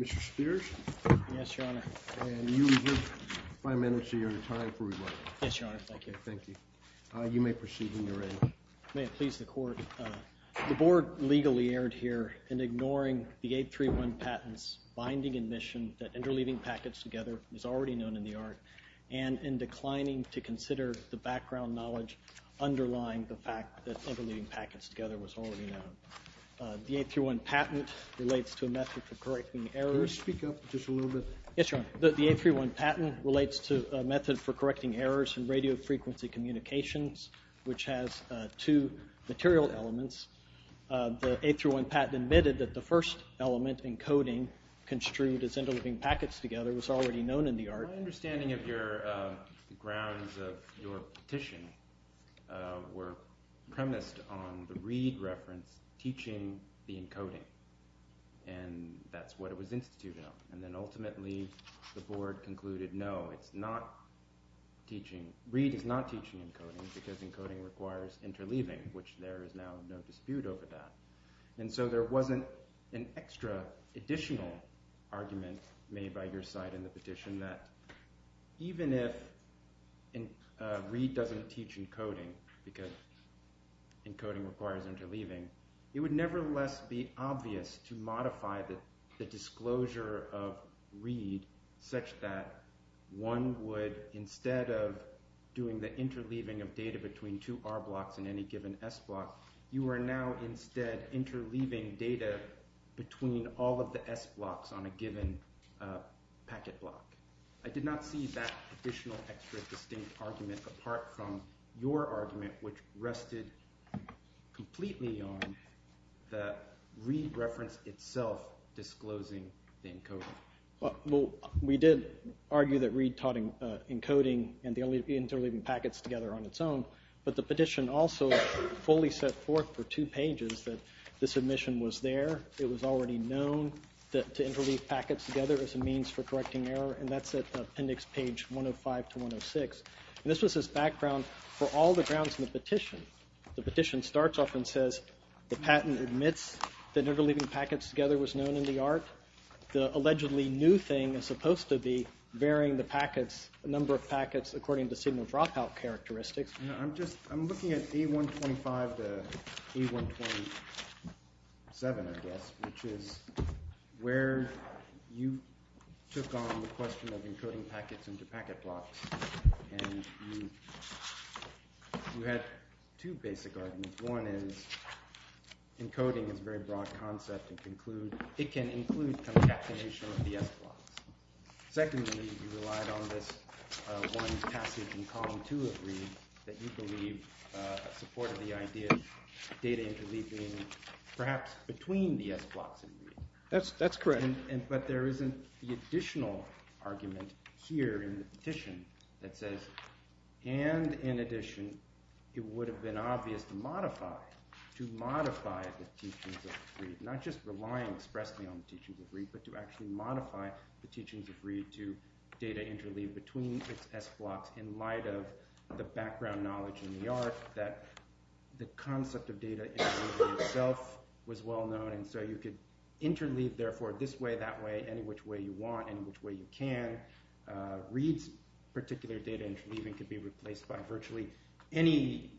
Mr. Spears. Yes, Your Honor. And you reserve five minutes of your time for rebuttal. Yes, Your Honor. Thank you. Thank you. You may proceed in your aim. May it please the Court. The Board legally erred here in ignoring the 831 patents, binding admission that interleaving packets together was already known in the art, and in declining to consider the background knowledge underlying the fact that interleaving packets together was already known. The 831 patent relates to a method for correcting errors. Could you speak up just a little bit? Yes, Your Honor. The 831 patent relates to a method for correcting errors in radio frequency communications, which has two material elements. The 831 patent admitted that the first element, encoding, construed as interleaving packets together was already known in the art. My understanding of the grounds of your petition were premised on the Reed reference, teaching the encoding. And that's what it was instituted on. And then ultimately the Board concluded, no, it's not teaching. It's not teaching encoding because encoding requires interleaving, which there is now no dispute over that. And so there wasn't an extra additional argument made by your side in the petition that even if Reed doesn't teach encoding because encoding requires interleaving, it would nevertheless be obvious to modify the disclosure of Reed such that one would, instead of doing the interleaving of data between two R blocks and any given S block, you are now instead interleaving data between all of the S blocks on a given packet block. I did not see that additional extra distinct argument apart from your argument, which rested completely on the Reed reference itself disclosing the encoding. Well, we did argue that Reed taught encoding and interleaving packets together on its own, but the petition also fully set forth for two pages that the submission was there. It was already known to interleave packets together as a means for correcting error, and that's at appendix page 105 to 106. And this was his background for all the grounds in the petition. The petition starts off and says the patent admits that interleaving packets together was known in the art. The allegedly new thing is supposed to be varying the packets, the number of packets, according to signal dropout characteristics. I'm looking at A125 to A127, I guess, which is where you took on the question of encoding packets into packet blocks, and you had two basic arguments. One is encoding is a very broad concept. It can include concatenation of the S blocks. Secondly, you relied on this one passage in column two of Reed that you believe supported the idea of data interleaving perhaps between the S blocks in Reed. That's correct. But there isn't the additional argument here in the petition that says, and in addition, it would have been obvious to modify the teachings of Reed, not just relying expressly on the teachings of Reed, but to actually modify the teachings of Reed to data interleave between its S blocks in light of the background knowledge in the art that the concept of data interleaving itself was well known. You could interleave, therefore, this way, that way, any which way you want, any which way you can. Reed's particular data interleaving could be replaced by virtually any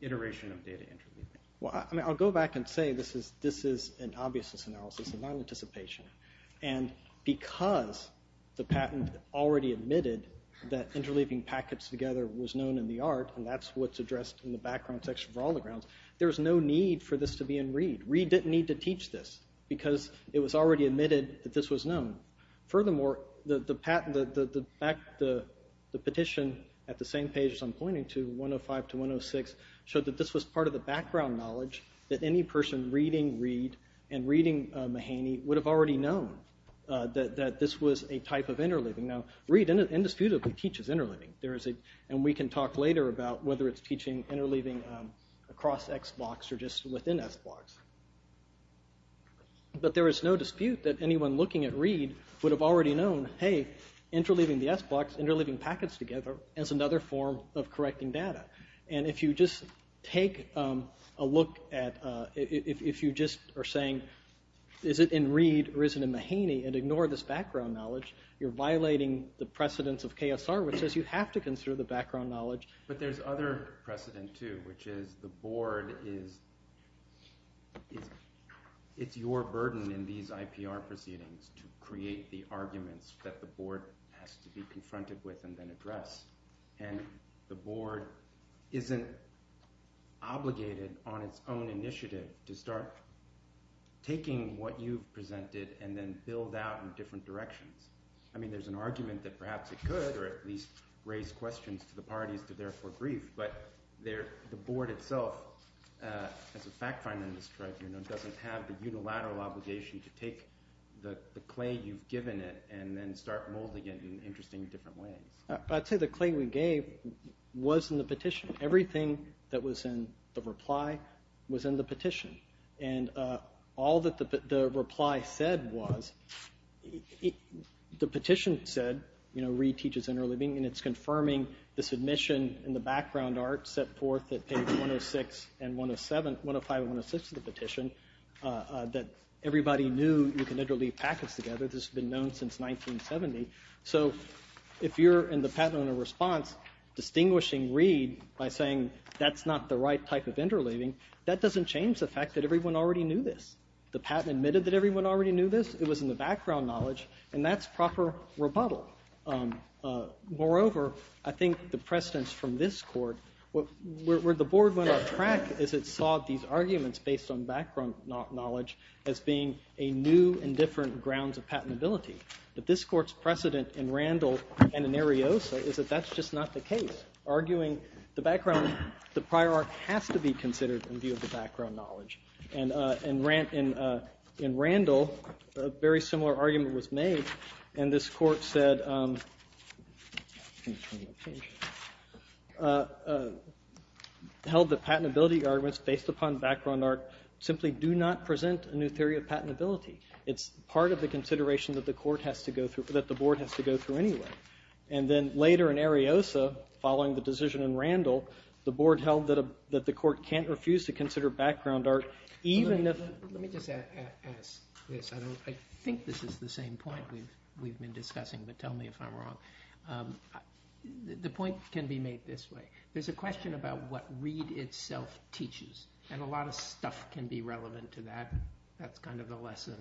iteration of data interleaving. I'll go back and say this is an obviousness analysis and not anticipation. Because the patent already admitted that interleaving packets together was known in the art, and that's what's addressed in the background section for all the grounds, there's no need for this to be in Reed. Reed didn't need to teach this because it was already admitted that this was known. Furthermore, the petition at the same page as I'm pointing to, 105 to 106, showed that this was part of the background knowledge that any person reading Reed and reading Mahaney would have already known that this was a type of interleaving. Reed indisputably teaches interleaving, and we can talk later about whether it's teaching interleaving across X blocks or just within S blocks. But there is no dispute that anyone looking at Reed would have already known, hey, interleaving the S blocks, interleaving packets together, is another form of correcting data. And if you just take a look at, if you just are saying, is it in Reed or is it in Mahaney, and ignore this background knowledge, you're violating the precedents of KSR, which says you have to consider the background knowledge. But there's other precedent, too, which is the board is – it's your burden in these IPR proceedings to create the arguments that the board has to be confronted with and then address. And the board isn't obligated on its own initiative to start taking what you've presented and then build out in different directions. I mean there's an argument that perhaps it could or at least raise questions to the parties to therefore brief, but the board itself, as a fact finder in this tribe, doesn't have the unilateral obligation to take the clay you've given it and then start molding it in interesting different ways. I'd say the clay we gave was in the petition. Everything that was in the reply was in the petition. And all that the reply said was, the petition said, you know, Reed teaches interleaving, and it's confirming this admission in the background art set forth at page 106 and 107, 105 and 106 of the petition, that everybody knew you could interleave packets together. This has been known since 1970. So if you're in the patent owner response distinguishing Reed by saying that's not the right type of interleaving, that doesn't change the fact that everyone already knew this. The patent admitted that everyone already knew this. It was in the background knowledge, and that's proper rebuttal. Moreover, I think the precedence from this court, where the board went off track is it saw these arguments based on background knowledge as being a new and different grounds of patentability. But this court's precedent in Randall and in Ariosa is that that's just not the case, arguing the background, the prior art has to be considered in view of the background knowledge. And in Randall, a very similar argument was made, and this court held that patentability arguments based upon background art simply do not present a new theory of patentability. It's part of the consideration that the board has to go through anyway. And then later in Ariosa, following the decision in Randall, the board held that the court can't refuse to consider background art even if... Let me just ask this. I think this is the same point we've been discussing, but tell me if I'm wrong. The point can be made this way. There's a question about what Reed itself teaches, and a lot of stuff can be relevant to that. That's kind of the lesson,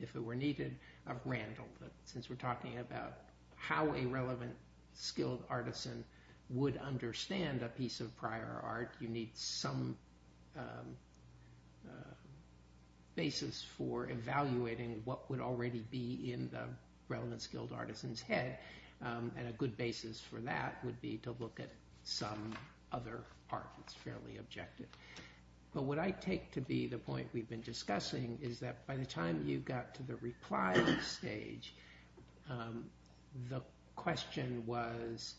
if it were needed, of Randall. But since we're talking about how a relevant, skilled artisan would understand a piece of prior art, you need some basis for evaluating what would already be in the relevant, skilled artisan's head. And a good basis for that would be to look at some other part that's fairly objective. But what I take to be the point we've been discussing is that by the time you got to the reply stage, the question was,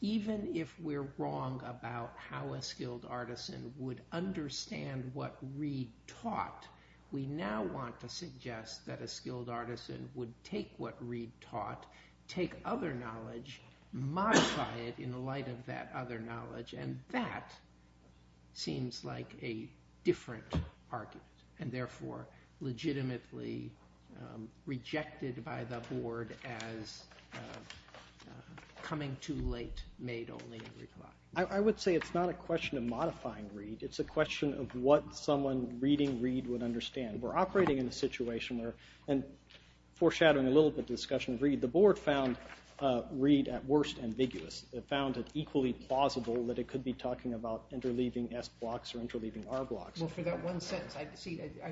even if we're wrong about how a skilled artisan would understand what Reed taught, we now want to suggest that a skilled artisan would take what Reed taught, take other knowledge, modify it in light of that other knowledge. And that seems like a different argument, and therefore legitimately rejected by the board as coming too late, made only in reply. I would say it's not a question of modifying Reed. It's a question of what someone reading Reed would understand. We're operating in a situation where, and foreshadowing a little bit of discussion of Reed, the board found Reed at worst ambiguous. It found it equally plausible that it could be talking about interleaving S blocks or interleaving R blocks. Well, for that one sentence, I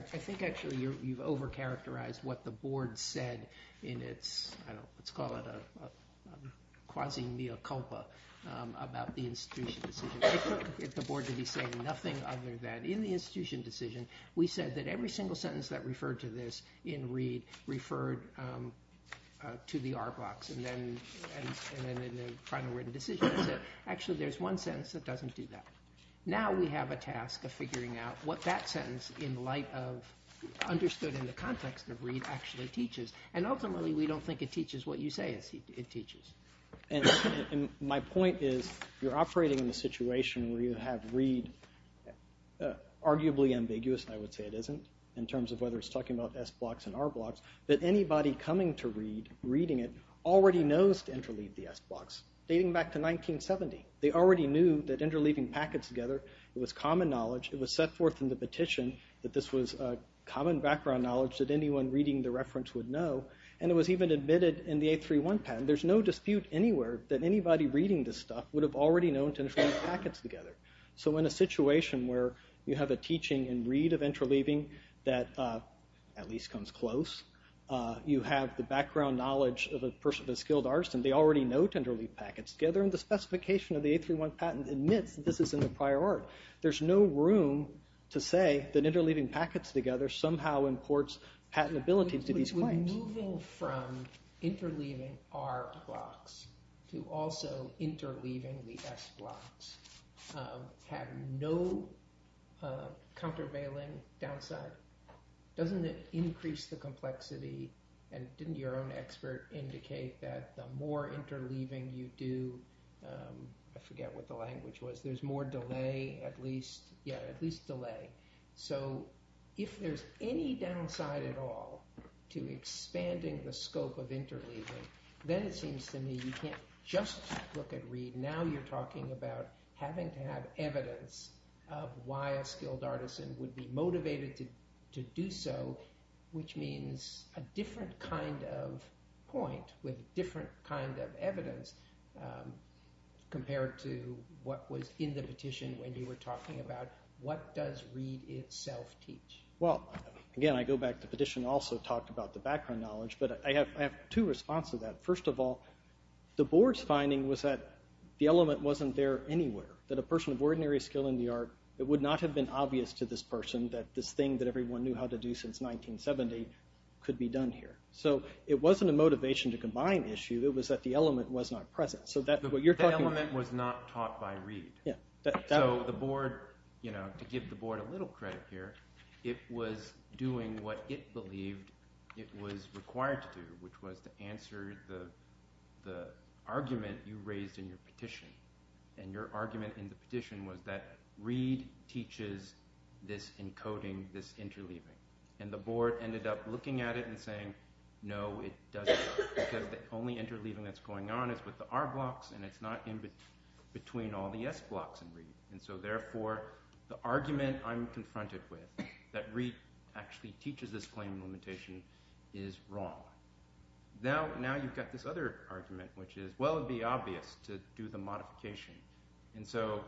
think actually you've overcharacterized what the board said in its, I don't know, let's call it a quasi-mea culpa about the institution decision. It took the board to be saying nothing other than, in the institution decision, we said that every single sentence that referred to this in Reed referred to the R blocks. And then in the final written decision it said, actually, there's one sentence that doesn't do that. Now we have a task of figuring out what that sentence, in light of, understood in the context of Reed, actually teaches. And ultimately, we don't think it teaches what you say it teaches. And my point is, you're operating in a situation where you have Reed, arguably ambiguous, I would say it isn't, in terms of whether it's talking about S blocks and R blocks, that anybody coming to Reed, reading it, already knows to interleave the S blocks, dating back to 1970. They already knew that interleaving packets together was common knowledge. It was set forth in the petition that this was common background knowledge that anyone reading the reference would know. And it was even admitted in the 831 patent. There's no dispute anywhere that anybody reading this stuff would have already known to interleave packets together. So in a situation where you have a teaching in Reed of interleaving that at least comes close, you have the background knowledge of a person, a skilled artist, and they already know to interleave packets together, and the specification of the 831 patent admits that this is in the prior art. There's no room to say that interleaving packets together somehow imports patentability to these claims. So moving from interleaving R blocks to also interleaving the S blocks have no countervailing downside? Doesn't it increase the complexity, and didn't your own expert indicate that the more interleaving you do, I forget what the language was, there's more delay, at least, yeah, at least delay. So if there's any downside at all to expanding the scope of interleaving, then it seems to me you can't just look at Reed. Now you're talking about having to have evidence of why a skilled artisan would be motivated to do so, which means a different kind of point with different kind of evidence compared to what was in the petition when you were talking about what does Reed itself teach? Well, again, I go back to the petition also talked about the background knowledge, but I have two responses to that. First of all, the board's finding was that the element wasn't there anywhere, that a person of ordinary skill in the art, it would not have been obvious to this person that this thing that everyone knew how to do since 1970 could be done here. So it wasn't a motivation to combine issue, it was that the element was not present. The element was not taught by Reed. So the board, you know, to give the board a little credit here, it was doing what it believed it was required to do, which was to answer the argument you raised in your petition. And your argument in the petition was that Reed teaches this encoding, this interleaving. And the board ended up looking at it and saying, no, it doesn't, because the only interleaving that's going on is with the R blocks, and it's not in between all the S blocks in Reed. And so, therefore, the argument I'm confronted with, that Reed actually teaches this claim limitation, is wrong. Now you've got this other argument, which is, well, it would be obvious to do the modification. And so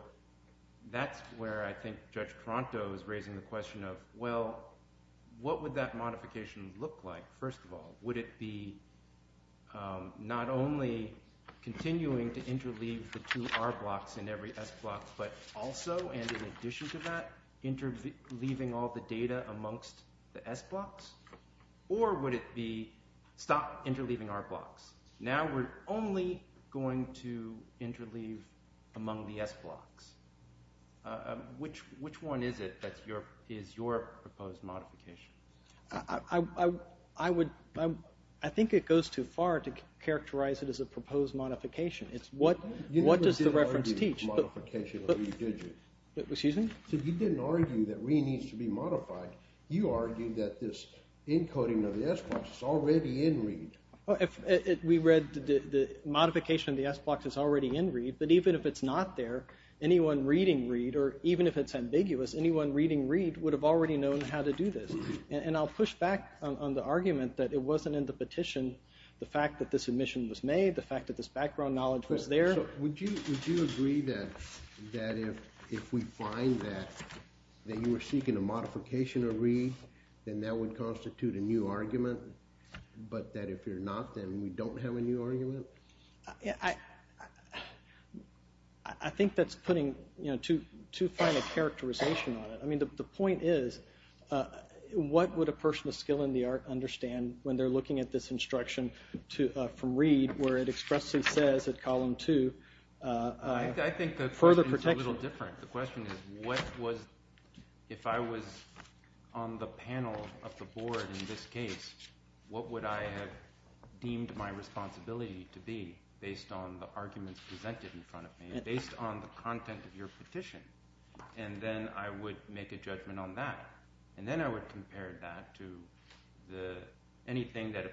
that's where I think Judge Tronto is raising the question of, well, what would that modification look like, first of all? Would it be not only continuing to interleave the two R blocks in every S block, but also, and in addition to that, interleaving all the data amongst the S blocks? Or would it be, stop interleaving R blocks. Now we're only going to interleave among the S blocks. Which one is it that is your proposed modification? I would, I think it goes too far to characterize it as a proposed modification. It's what does the reference teach? You didn't argue modification of Reed, did you? Excuse me? You didn't argue that Reed needs to be modified. You argued that this encoding of the S blocks is already in Reed. We read the modification of the S blocks is already in Reed, but even if it's not there, anyone reading Reed, or even if it's ambiguous, anyone reading Reed would have already known how to do this. And I'll push back on the argument that it wasn't in the petition, the fact that this admission was made, the fact that this background knowledge was there. Would you agree that if we find that you were seeking a modification of Reed, then that would constitute a new argument, but that if you're not, then we don't have a new argument? I think that's putting too fine a characterization on it. I mean, the point is, what would a person with skill in the art understand when they're looking at this instruction from Reed where it expressly says at column two, further protection. I think the question is a little different. The question is, what was, if I was on the panel of the board in this case, what would I have deemed my responsibility to be based on the arguments presented in front of me, based on the content of your petition? And then I would make a judgment on that. And then I would compare that to anything that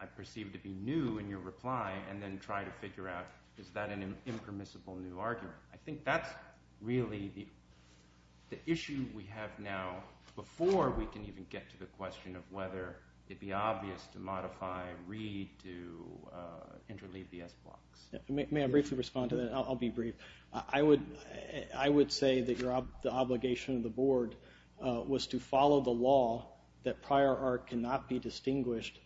I perceived to be new in your reply and then try to figure out, is that an impermissible new argument? I think that's really the issue we have now before we can even get to the question of whether it be obvious to modify Reed to interleave the S blocks. May I briefly respond to that? I'll be brief. I would say that the obligation of the board was to follow the law that prior art cannot be distinguished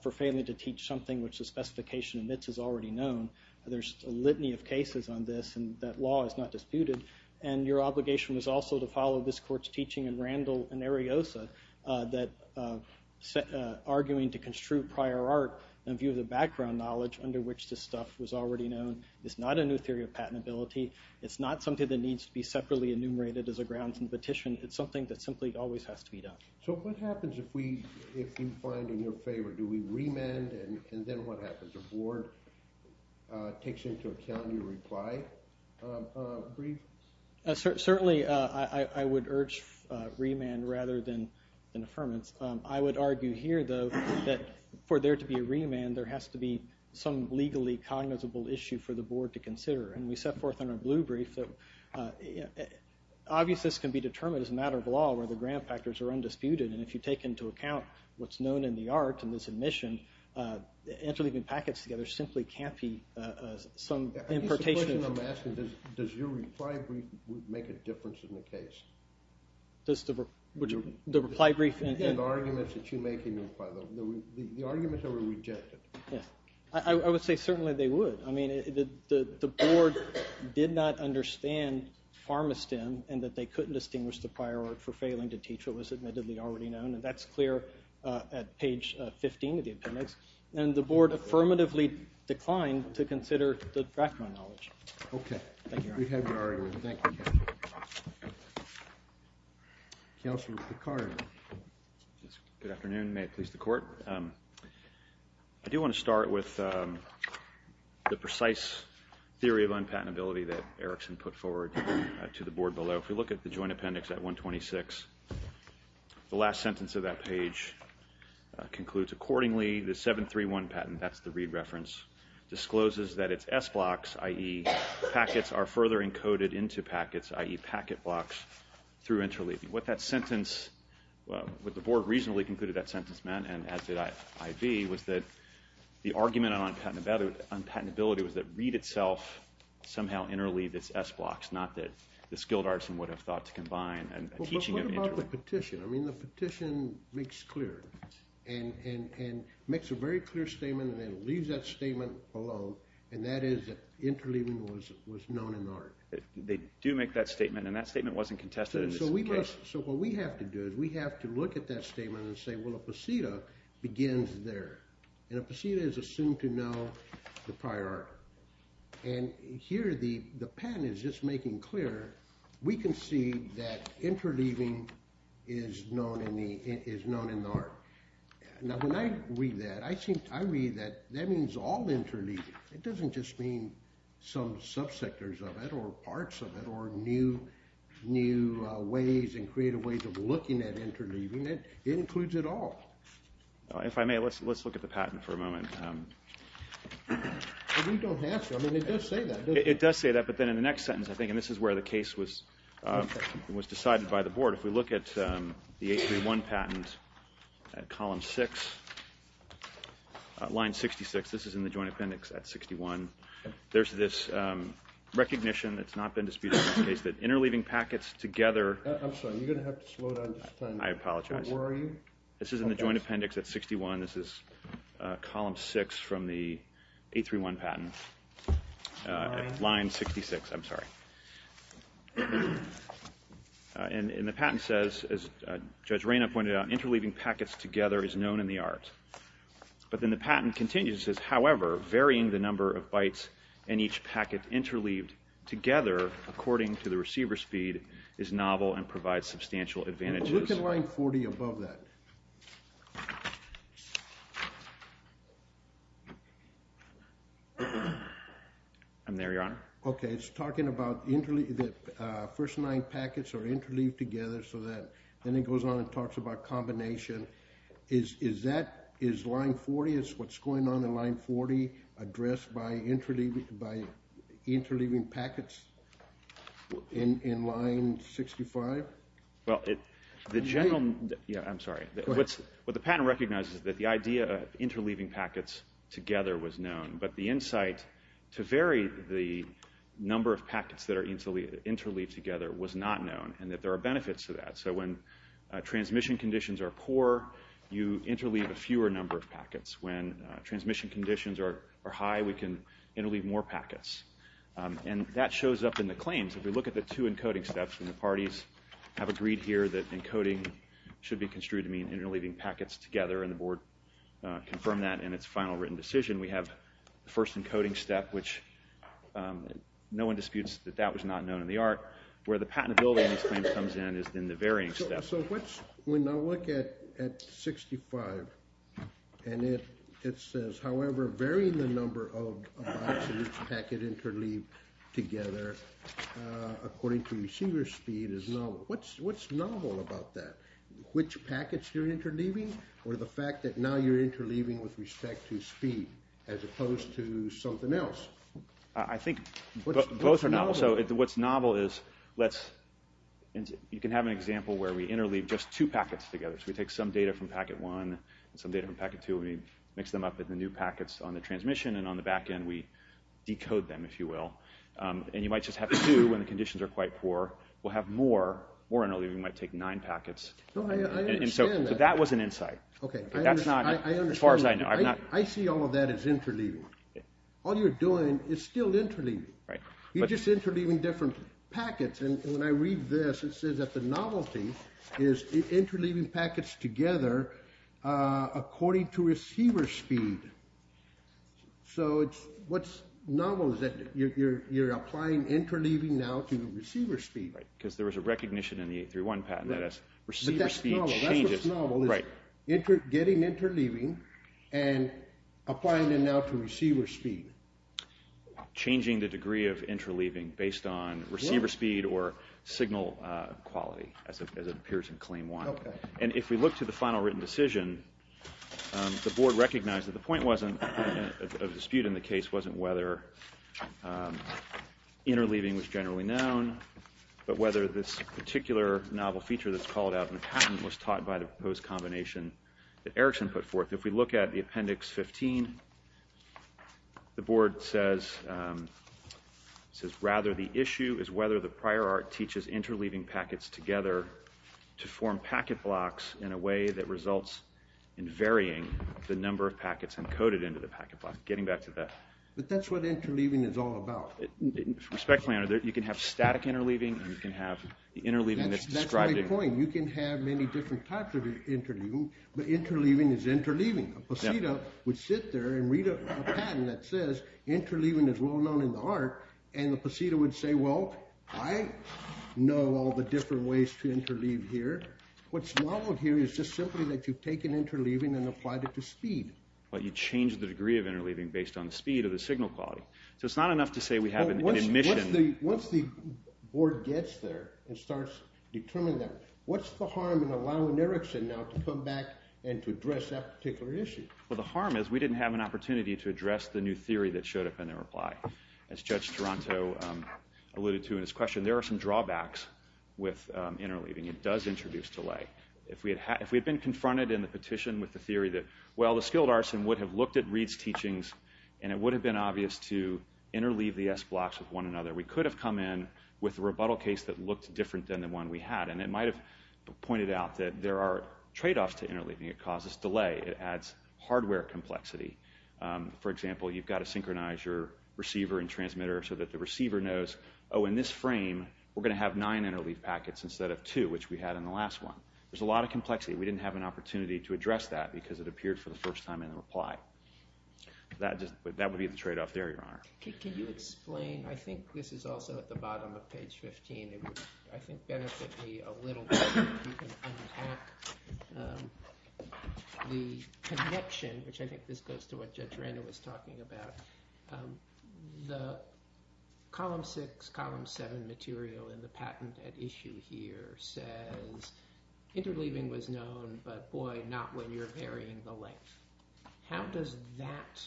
for failing to teach something which the specification admits is already known. There's a litany of cases on this, and that law is not disputed. And your obligation was also to follow this court's teaching in Randall and Ariosa, arguing to construe prior art in view of the background knowledge under which this stuff was already known. It's not a new theory of patentability. It's not something that needs to be separately enumerated as a grounds in the petition. It's something that simply always has to be done. So what happens if you find in your favor? Do we remand, and then what happens? If the board takes into account your reply brief? Certainly, I would urge remand rather than affirmance. I would argue here, though, that for there to be a remand, there has to be some legally cognizable issue for the board to consider. And we set forth in our blue brief that obviousness can be determined as a matter of law where the grant factors are undisputed, and if you take into account what's known in the art in this admission, interleaving packets together simply can't be some importation. I guess the question I'm asking is, does your reply brief make a difference in the case? The reply brief? The arguments that you make in your reply brief. The arguments that were rejected. I would say certainly they would. I mean, the board did not understand PharmaSTEM and that they couldn't distinguish the prior art for failing to teach what was admittedly already known. And that's clear at page 15 of the appendix. And the board affirmatively declined to consider the background knowledge. Thank you, Your Honor. We have your argument. Thank you. Counselor Picard. Good afternoon. May it please the Court. I do want to start with the precise theory of unpatentability that Erickson put forward to the board below. So if we look at the joint appendix at 126, the last sentence of that page concludes, Accordingly, the 731 patent, that's the Reed reference, discloses that its S blocks, i.e. packets, are further encoded into packets, i.e. packet blocks, through interleaving. What that sentence, what the board reasonably concluded that sentence meant, and as did I.V., was that the argument on unpatentability was that Reed itself somehow interleaved its S blocks, not that the skilled artisan would have thought to combine a teaching of interleaving. Well, but what about the petition? I mean, the petition makes clear, and makes a very clear statement, and then leaves that statement alone, and that is that interleaving was known in the art. They do make that statement, and that statement wasn't contested in this case. So what we have to do is we have to look at that statement and say, well, a pasita begins there. And a pasita is assumed to know the prior art. And here the patent is just making clear we can see that interleaving is known in the art. Now, when I read that, I read that that means all interleaving. It doesn't just mean some subsectors of it or parts of it or new ways and creative ways of looking at interleaving. It includes it all. If I may, let's look at the patent for a moment. We don't have to. I mean, it does say that, doesn't it? It does say that, but then in the next sentence, I think, and this is where the case was decided by the board. If we look at the 831 patent at column 6, line 66, this is in the joint appendix at 61. There's this recognition that's not been disputed in this case that interleaving packets together. I'm sorry. You're going to have to slow down. I apologize. Where are you? This is in the joint appendix at 61. This is column 6 from the 831 patent at line 66. I'm sorry. And the patent says, as Judge Reyna pointed out, interleaving packets together is known in the art. But then the patent continues. It says, however, varying the number of bytes in each packet interleaved together according to the receiver speed is novel and provides substantial advantages. Look at line 40 above that. I'm there, Your Honor. OK. It's talking about the first nine packets are interleaved together. So then it goes on and talks about combination. Is that, is line 40, is what's going on in line 40 addressed by interleaving packets in line 65? Well, the general, yeah, I'm sorry. Go ahead. What the patent recognizes is that the idea of interleaving packets together was known. But the insight to vary the number of packets that are interleaved together was not known and that there are benefits to that. So when transmission conditions are poor, you interleave a fewer number of packets. When transmission conditions are high, we can interleave more packets. And that shows up in the claims. If we look at the two encoding steps, and the parties have agreed here that encoding should be construed to mean interleaving packets together. And the board confirmed that in its final written decision. We have the first encoding step, which no one disputes that that was not known in the art. Where the patentability in these claims comes in is in the varying steps. So what's, when I look at 65, and it says, however, varying the number of packets interleaved together according to receiver speed is novel. What's novel about that? Which packets you're interleaving? Or the fact that now you're interleaving with respect to speed as opposed to something else? I think both are novel. So what's novel is, let's, you can have an example where we interleave just two packets together. So we take some data from packet one and some data from packet two and we mix them up in the new packets on the transmission. And on the back end we decode them, if you will. And you might just have two when the conditions are quite poor. We'll have more, more interleaving might take nine packets. So that was an insight. That's not, as far as I know. I see all of that as interleaving. All you're doing is still interleaving. You're just interleaving different packets. And when I read this, it says that the novelty is interleaving packets together according to receiver speed. So what's novel is that you're applying interleaving now to receiver speed. Because there was a recognition in the 831 patent that receiver speed changes. That's what's novel is getting interleaving and applying it now to receiver speed. Changing the degree of interleaving based on receiver speed or signal quality, as it appears in claim one. And if we look to the final written decision, the board recognized that the point of dispute in the case wasn't whether interleaving was generally known, but whether this particular novel feature that's called out in the patent was taught by the proposed combination that Erickson put forth. If we look at the Appendix 15, the board says rather the issue is whether the prior art teaches interleaving packets together to form packet blocks in a way that results in varying the number of packets encoded into the packet block. Getting back to that. But that's what interleaving is all about. Respectfully, Your Honor, you can have static interleaving and you can have the interleaving that's described. That's my point. You can have many different types of interleaving, but interleaving is interleaving. A poseta would sit there and read a patent that says interleaving is well known in the art, and the poseta would say, well, I know all the different ways to interleave here. What's novel here is just simply that you've taken interleaving and applied it to speed. But you change the degree of interleaving based on the speed or the signal quality. So it's not enough to say we have an admission. Once the board gets there and starts determining that, what's the harm in allowing Erickson now to come back and to address that particular issue? Well, the harm is we didn't have an opportunity to address the new theory that showed up in their reply. As Judge Toronto alluded to in his question, there are some drawbacks with interleaving. It does introduce delay. If we had been confronted in the petition with the theory that, well, the skilled arson would have looked at Reed's teachings and it would have been obvious to interleave the S blocks with one another, we could have come in with a rebuttal case that looked different than the one we had. And it might have pointed out that there are tradeoffs to interleaving. It causes delay. It adds hardware complexity. For example, you've got to synchronize your receiver and transmitter so that the receiver knows, oh, in this frame, we're going to have nine interleave packets instead of two, which we had in the last one. There's a lot of complexity. We didn't have an opportunity to address that because it appeared for the first time in the reply. That would be the tradeoff there, Your Honor. Can you explain? I think this is also at the bottom of page 15. It would, I think, benefit me a little bit if you can unpack the connection, which I think this goes to what Judge Randall was talking about. The column six, column seven material in the patent at issue here says interleaving was known, but boy, not when you're varying the length. How does that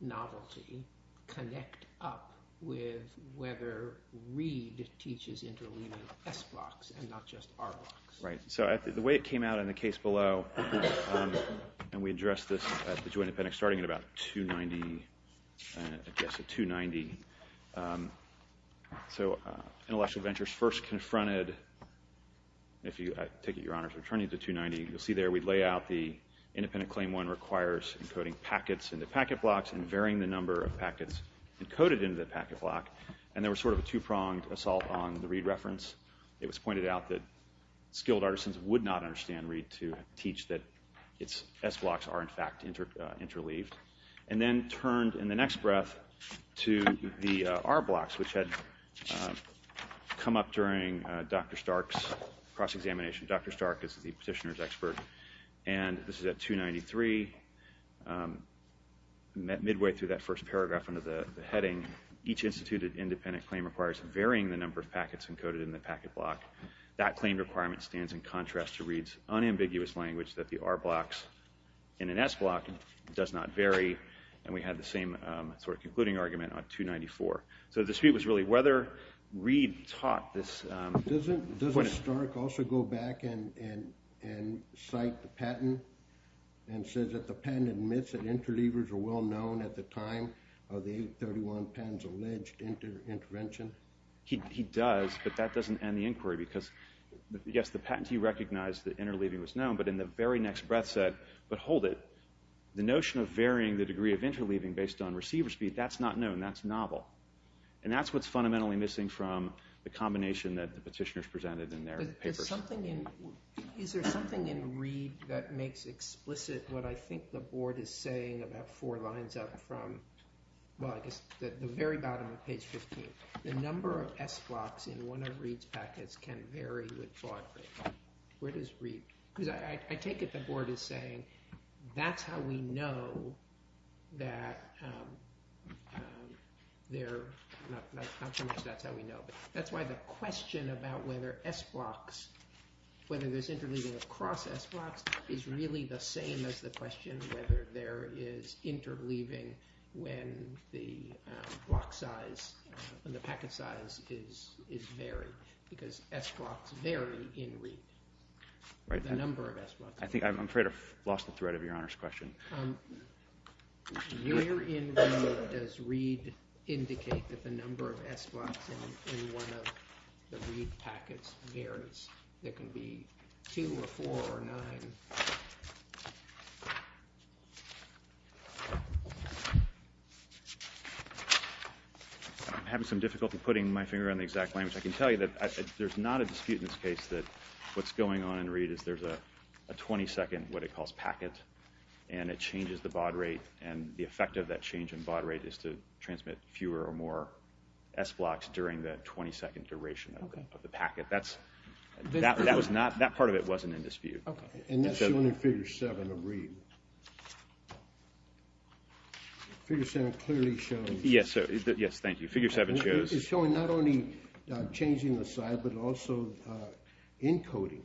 novelty connect up with whether Reed teaches interleaving S blocks and not just R blocks? Right. So the way it came out in the case below, and we addressed this at the joint appendix starting at about 290. I guess at 290. So Intellectual Ventures first confronted, I take it, Your Honor, returning to 290. You'll see there we lay out the independent claim one requires encoding packets into packet blocks and varying the number of packets encoded into the packet block, and there was sort of a two-pronged assault on the Reed reference. It was pointed out that skilled artisans would not understand Reed to teach that its S blocks are in fact interleaved and then turned in the next breath to the R blocks, which had come up during Dr. Stark's cross-examination. Dr. Stark is the petitioner's expert, and this is at 293. Each instituted independent claim requires varying the number of packets encoded in the packet block. That claim requirement stands in contrast to Reed's unambiguous language that the R blocks in an S block does not vary, and we had the same sort of concluding argument on 294. So the dispute was really whether Reed taught this. Doesn't Stark also go back and cite the patent and say that the patent admits that interleavers are well known at the time of the 831 patent's alleged intervention? He does, but that doesn't end the inquiry because, yes, the patentee recognized that interleaving was known, but in the very next breath said, but hold it. The notion of varying the degree of interleaving based on receiver speed, that's not known. That's novel. And that's what's fundamentally missing from the combination that the petitioners presented in their papers. Is there something in Reed that makes explicit what I think the board is saying about four lines up from the very bottom of page 15? The number of S blocks in one of Reed's packets can vary with thought. Where does Reed – because I take it the board is saying that's how we know that they're – not so much that's how we know, but that's why the question about whether S blocks – whether there's interleaving across S blocks is really the same as the question of whether there is interleaving when the block size and the packet size is varied because S blocks vary in Reed. The number of S blocks. I'm afraid I've lost the thread of Your Honor's question. Where in Reed does Reed indicate that the number of S blocks in one of the Reed packets varies? There can be two or four or nine. I'm having some difficulty putting my finger on the exact language. I can tell you that there's not a dispute in this case that what's going on in Reed is there's a 22nd, what it calls packet, and it changes the baud rate. And the effect of that change in baud rate is to transmit fewer or more S blocks during the 22nd duration of the packet. That's – that was not – that part of it wasn't in dispute. And that's shown in Figure 7 of Reed. Figure 7 clearly shows – Yes, thank you. Figure 7 shows – It's showing not only changing the size but also encoding.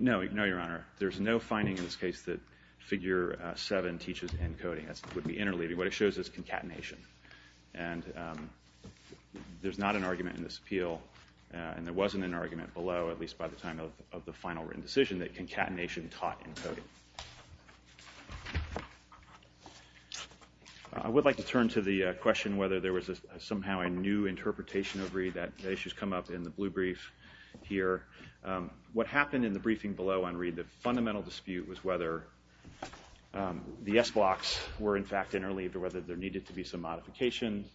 No, Your Honor. There's no finding in this case that Figure 7 teaches encoding. That would be interleaving. What it shows is concatenation. And there's not an argument in this appeal, and there wasn't an argument below, at least by the time of the final written decision, that concatenation taught encoding. I would like to turn to the question whether there was somehow a new interpretation of Reed. That issue's come up in the blue brief here. What happened in the briefing below on Reed, the fundamental dispute was whether the S blocks were, in fact, interleaved or whether there needed to be some modification.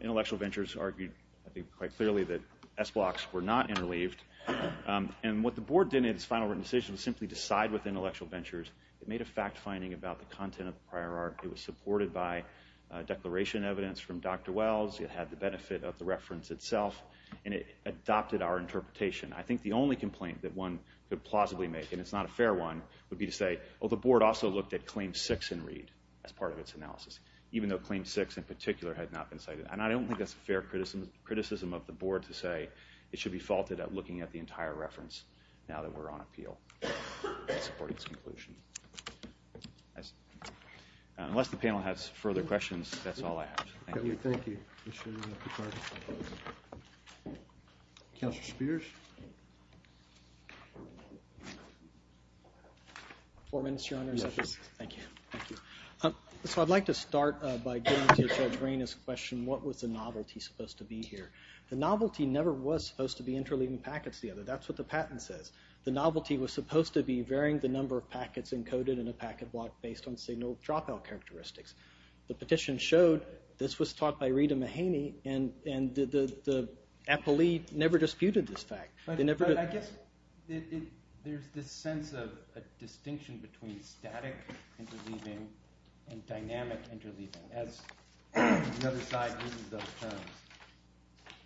Intellectual Ventures argued, I think, quite clearly that S blocks were not interleaved. And what the board did in its final written decision was simply decide with Intellectual Ventures. It made a fact-finding about the content of the prior art. It was supported by declaration evidence from Dr. Wells. It had the benefit of the reference itself. And it adopted our interpretation. I think the only complaint that one could plausibly make, and it's not a fair one, would be to say, oh, the board also looked at Claim 6 in Reed as part of its analysis, even though Claim 6 in particular had not been cited. And I don't think that's a fair criticism of the board to say it should be faulted at looking at the entire reference now that we're on appeal in supporting this conclusion. Unless the panel has further questions, that's all I have. Thank you. Thank you. Counselor Spears? Four minutes, Your Honors. Thank you. Thank you. So I'd like to start by getting to Judge Raina's question, what was the novelty supposed to be here? The novelty never was supposed to be interleaving packets together. That's what the patent says. The novelty was supposed to be varying the number of packets encoded in a packet block based on signal dropout characteristics. The petition showed this was taught by Rita Mahaney, and the appellee never disputed this fact. I guess there's this sense of a distinction between static interleaving and dynamic interleaving, as the other side uses those terms.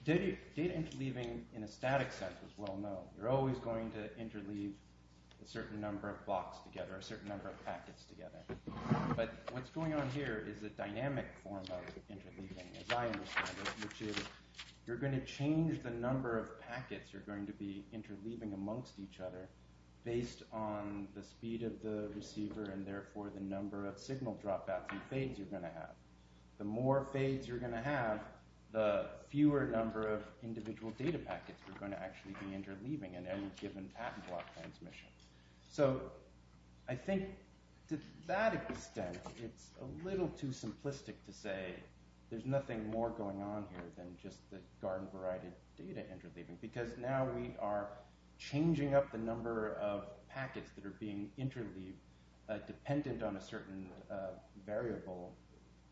Data interleaving in a static sense is well known. You're always going to interleave a certain number of blocks together or a certain number of packets together. But what's going on here is a dynamic form of interleaving, as I understand it, which is you're going to change the number of packets you're going to be interleaving amongst each other based on the speed of the receiver and therefore the number of signal dropouts and fades you're going to have. The more fades you're going to have, the fewer number of individual data packets you're going to actually be interleaving in any given patent block transmission. So I think to that extent it's a little too simplistic to say there's nothing more going on here than just the garden-varied data interleaving because now we are changing up the number of packets that are being interleaved dependent on a certain variable,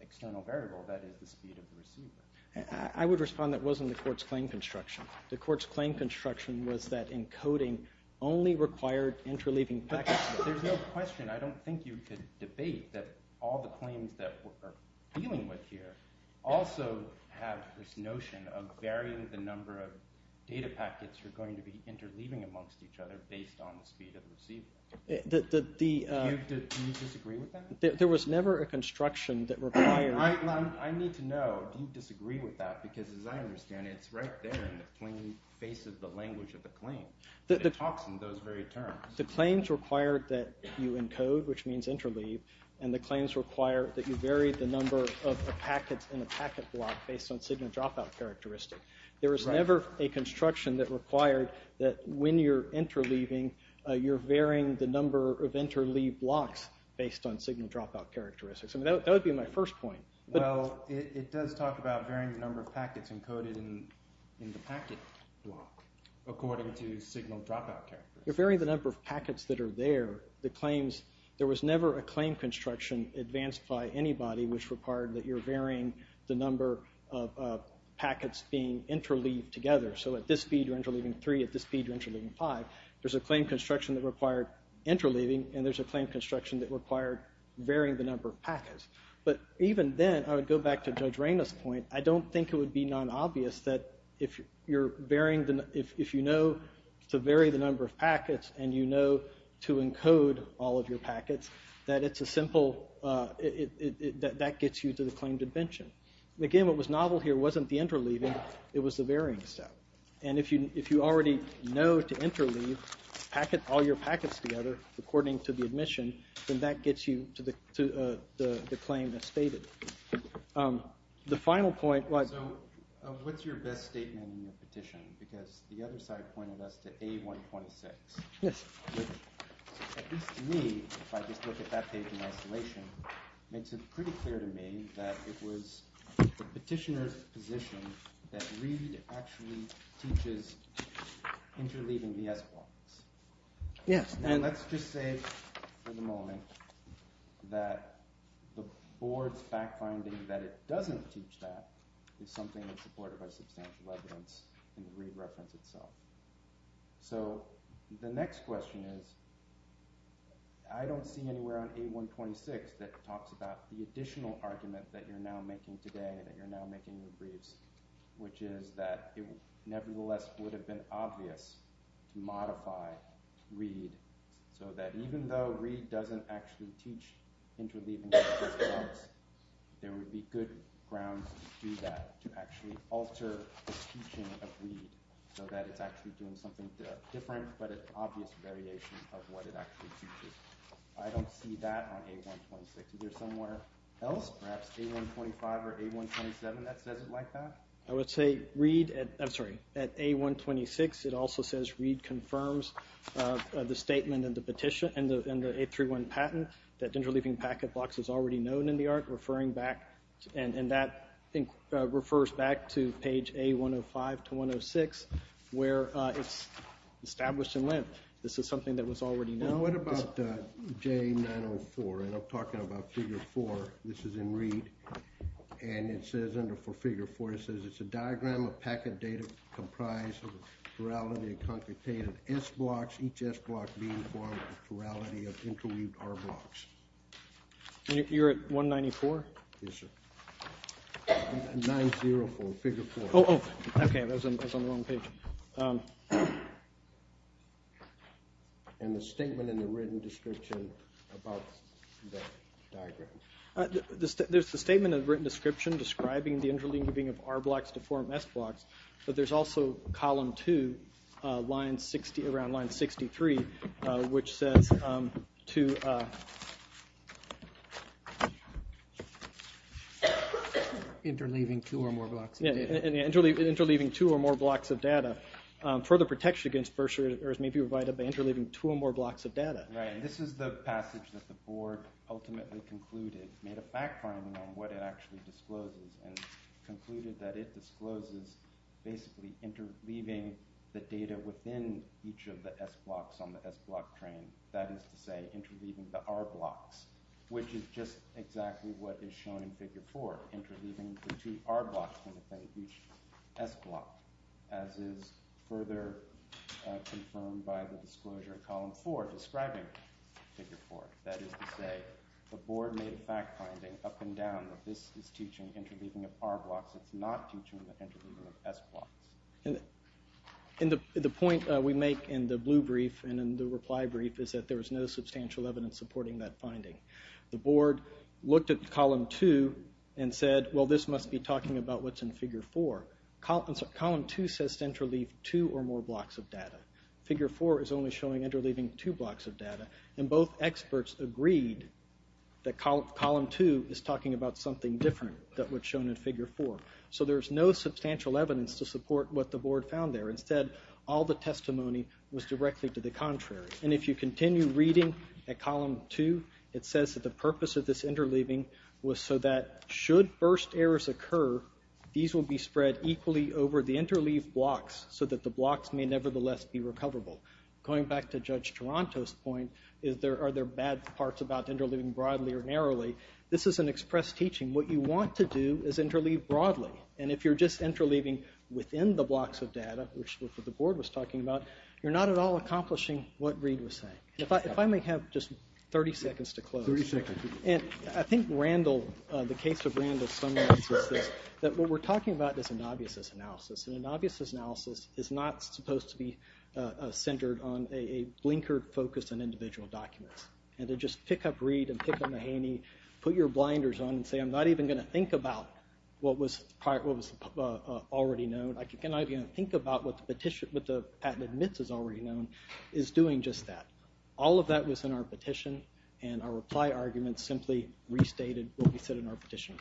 external variable, that is the speed of the receiver. I would respond that wasn't the court's claim construction. The court's claim construction was that encoding only required interleaving packets. There's no question. I don't think you could debate that all the claims that we're dealing with here also have this notion of varying the number of data packets you're going to be interleaving amongst each other based on the speed of the receiver. Do you disagree with that? There was never a construction that required... I need to know, do you disagree with that? Because as I understand it, it's right there in the plain face of the language of the claim. It talks in those very terms. The claims require that you encode, which means interleave, and the claims require that you vary the number of packets in a packet block based on signal dropout characteristics. There was never a construction that required that when you're interleaving you're varying the number of interleave blocks based on signal dropout characteristics. That would be my first point. It does talk about varying the number of packets encoded in the packet block according to signal dropout characteristics. You're varying the number of packets that are there. There was never a claim construction advanced by anybody which required that you're varying the number of packets being interleaved together. So at this speed you're interleaving three, at this speed you're interleaving five. There's a claim construction that required interleaving and there's a claim construction that required varying the number of packets. But even then, I would go back to Judge Reyna's point, I don't think it would be non-obvious that if you know to vary the number of packets and you know to encode all of your packets, that gets you to the claim dimension. Again, what was novel here wasn't the interleaving, it was the varying step. If you already know to interleave all your packets together according to the admission, then that gets you to the claim that's stated. The final point was— So what's your best statement in your petition? Because the other side pointed us to A126. Yes. Which, at least to me, if I just look at that page in isolation, makes it pretty clear to me that it was the petitioner's position that Reed actually teaches interleaving the S blocks. Yes. And let's just say for the moment that the board's fact-finding that it doesn't teach that is something that's supported by substantial evidence in the Reed reference itself. So the next question is, I don't see anywhere on A126 that talks about the additional argument that you're now making today, that you're now making the briefs, which is that it nevertheless would have been obvious to modify Reed so that even though Reed doesn't actually teach interleaving S blocks, there would be good grounds to do that, to actually alter the teaching of Reed so that it's actually doing something different but an obvious variation of what it actually teaches. I don't see that on A126. Is there somewhere else, perhaps A125 or A127, that says it like that? I would say at A126 it also says Reed confirms the statement in the A31 patent that interleaving packet blocks is already known in the art, and that refers back to page A105 to 106 where it's established in length. This is something that was already known. What about J904? And I'm talking about Figure 4. This is in Reed. And it says under Figure 4, it says it's a diagram of packet data comprised of plurality and concatenated S blocks, each S block being formed with plurality of interweaved R blocks. You're at 194? Yes, sir. 904, Figure 4. Okay, I was on the wrong page. And the statement in the written description about the diagram. There's the statement in the written description describing the interleaving of R blocks to form S blocks, but there's also column 2, around line 63, which says to interleaving two or more blocks of data. Further protection against bursaries may be provided by interleaving two or more blocks of data. Right, and this is the passage that the board ultimately concluded, made a fact finding on what it actually discloses, and concluded that it discloses basically interleaving the data within each of the S blocks on the S block train. That is to say, interleaving the R blocks, which is just exactly what is shown in Figure 4, interleaving the two R blocks within each S block, as is further confirmed by the disclosure in column 4, describing Figure 4. That is to say, the board made a fact finding, up and down, that this is teaching interleaving of R blocks, it's not teaching the interleaving of S blocks. And the point we make in the blue brief and in the reply brief is that there was no substantial evidence supporting that finding. The board looked at column 2 and said, well, this must be talking about what's in Figure 4. But column 2 says to interleave two or more blocks of data. Figure 4 is only showing interleaving two blocks of data. And both experts agreed that column 2 is talking about something different than what's shown in Figure 4. So there's no substantial evidence to support what the board found there. Instead, all the testimony was directly to the contrary. And if you continue reading at column 2, it says that the purpose of this interleaving was so that should burst errors occur, these will be spread equally over the interleaved blocks so that the blocks may nevertheless be recoverable. Going back to Judge Toronto's point, are there bad parts about interleaving broadly or narrowly, this is an express teaching. What you want to do is interleave broadly. And if you're just interleaving within the blocks of data, which is what the board was talking about, you're not at all accomplishing what Reid was saying. If I may have just 30 seconds to close. I think the case of Randall summarizes this, that what we're talking about is an obvious analysis. And an obvious analysis is not supposed to be centered on a blinkered focus on individual documents. And to just pick up Reid and pick up Mahaney, put your blinders on and say, I'm not even going to think about what was already known. I cannot even think about what the patent admits is already known, is doing just that. All of that was in our petition, and our reply argument simply restated what we said in our petition.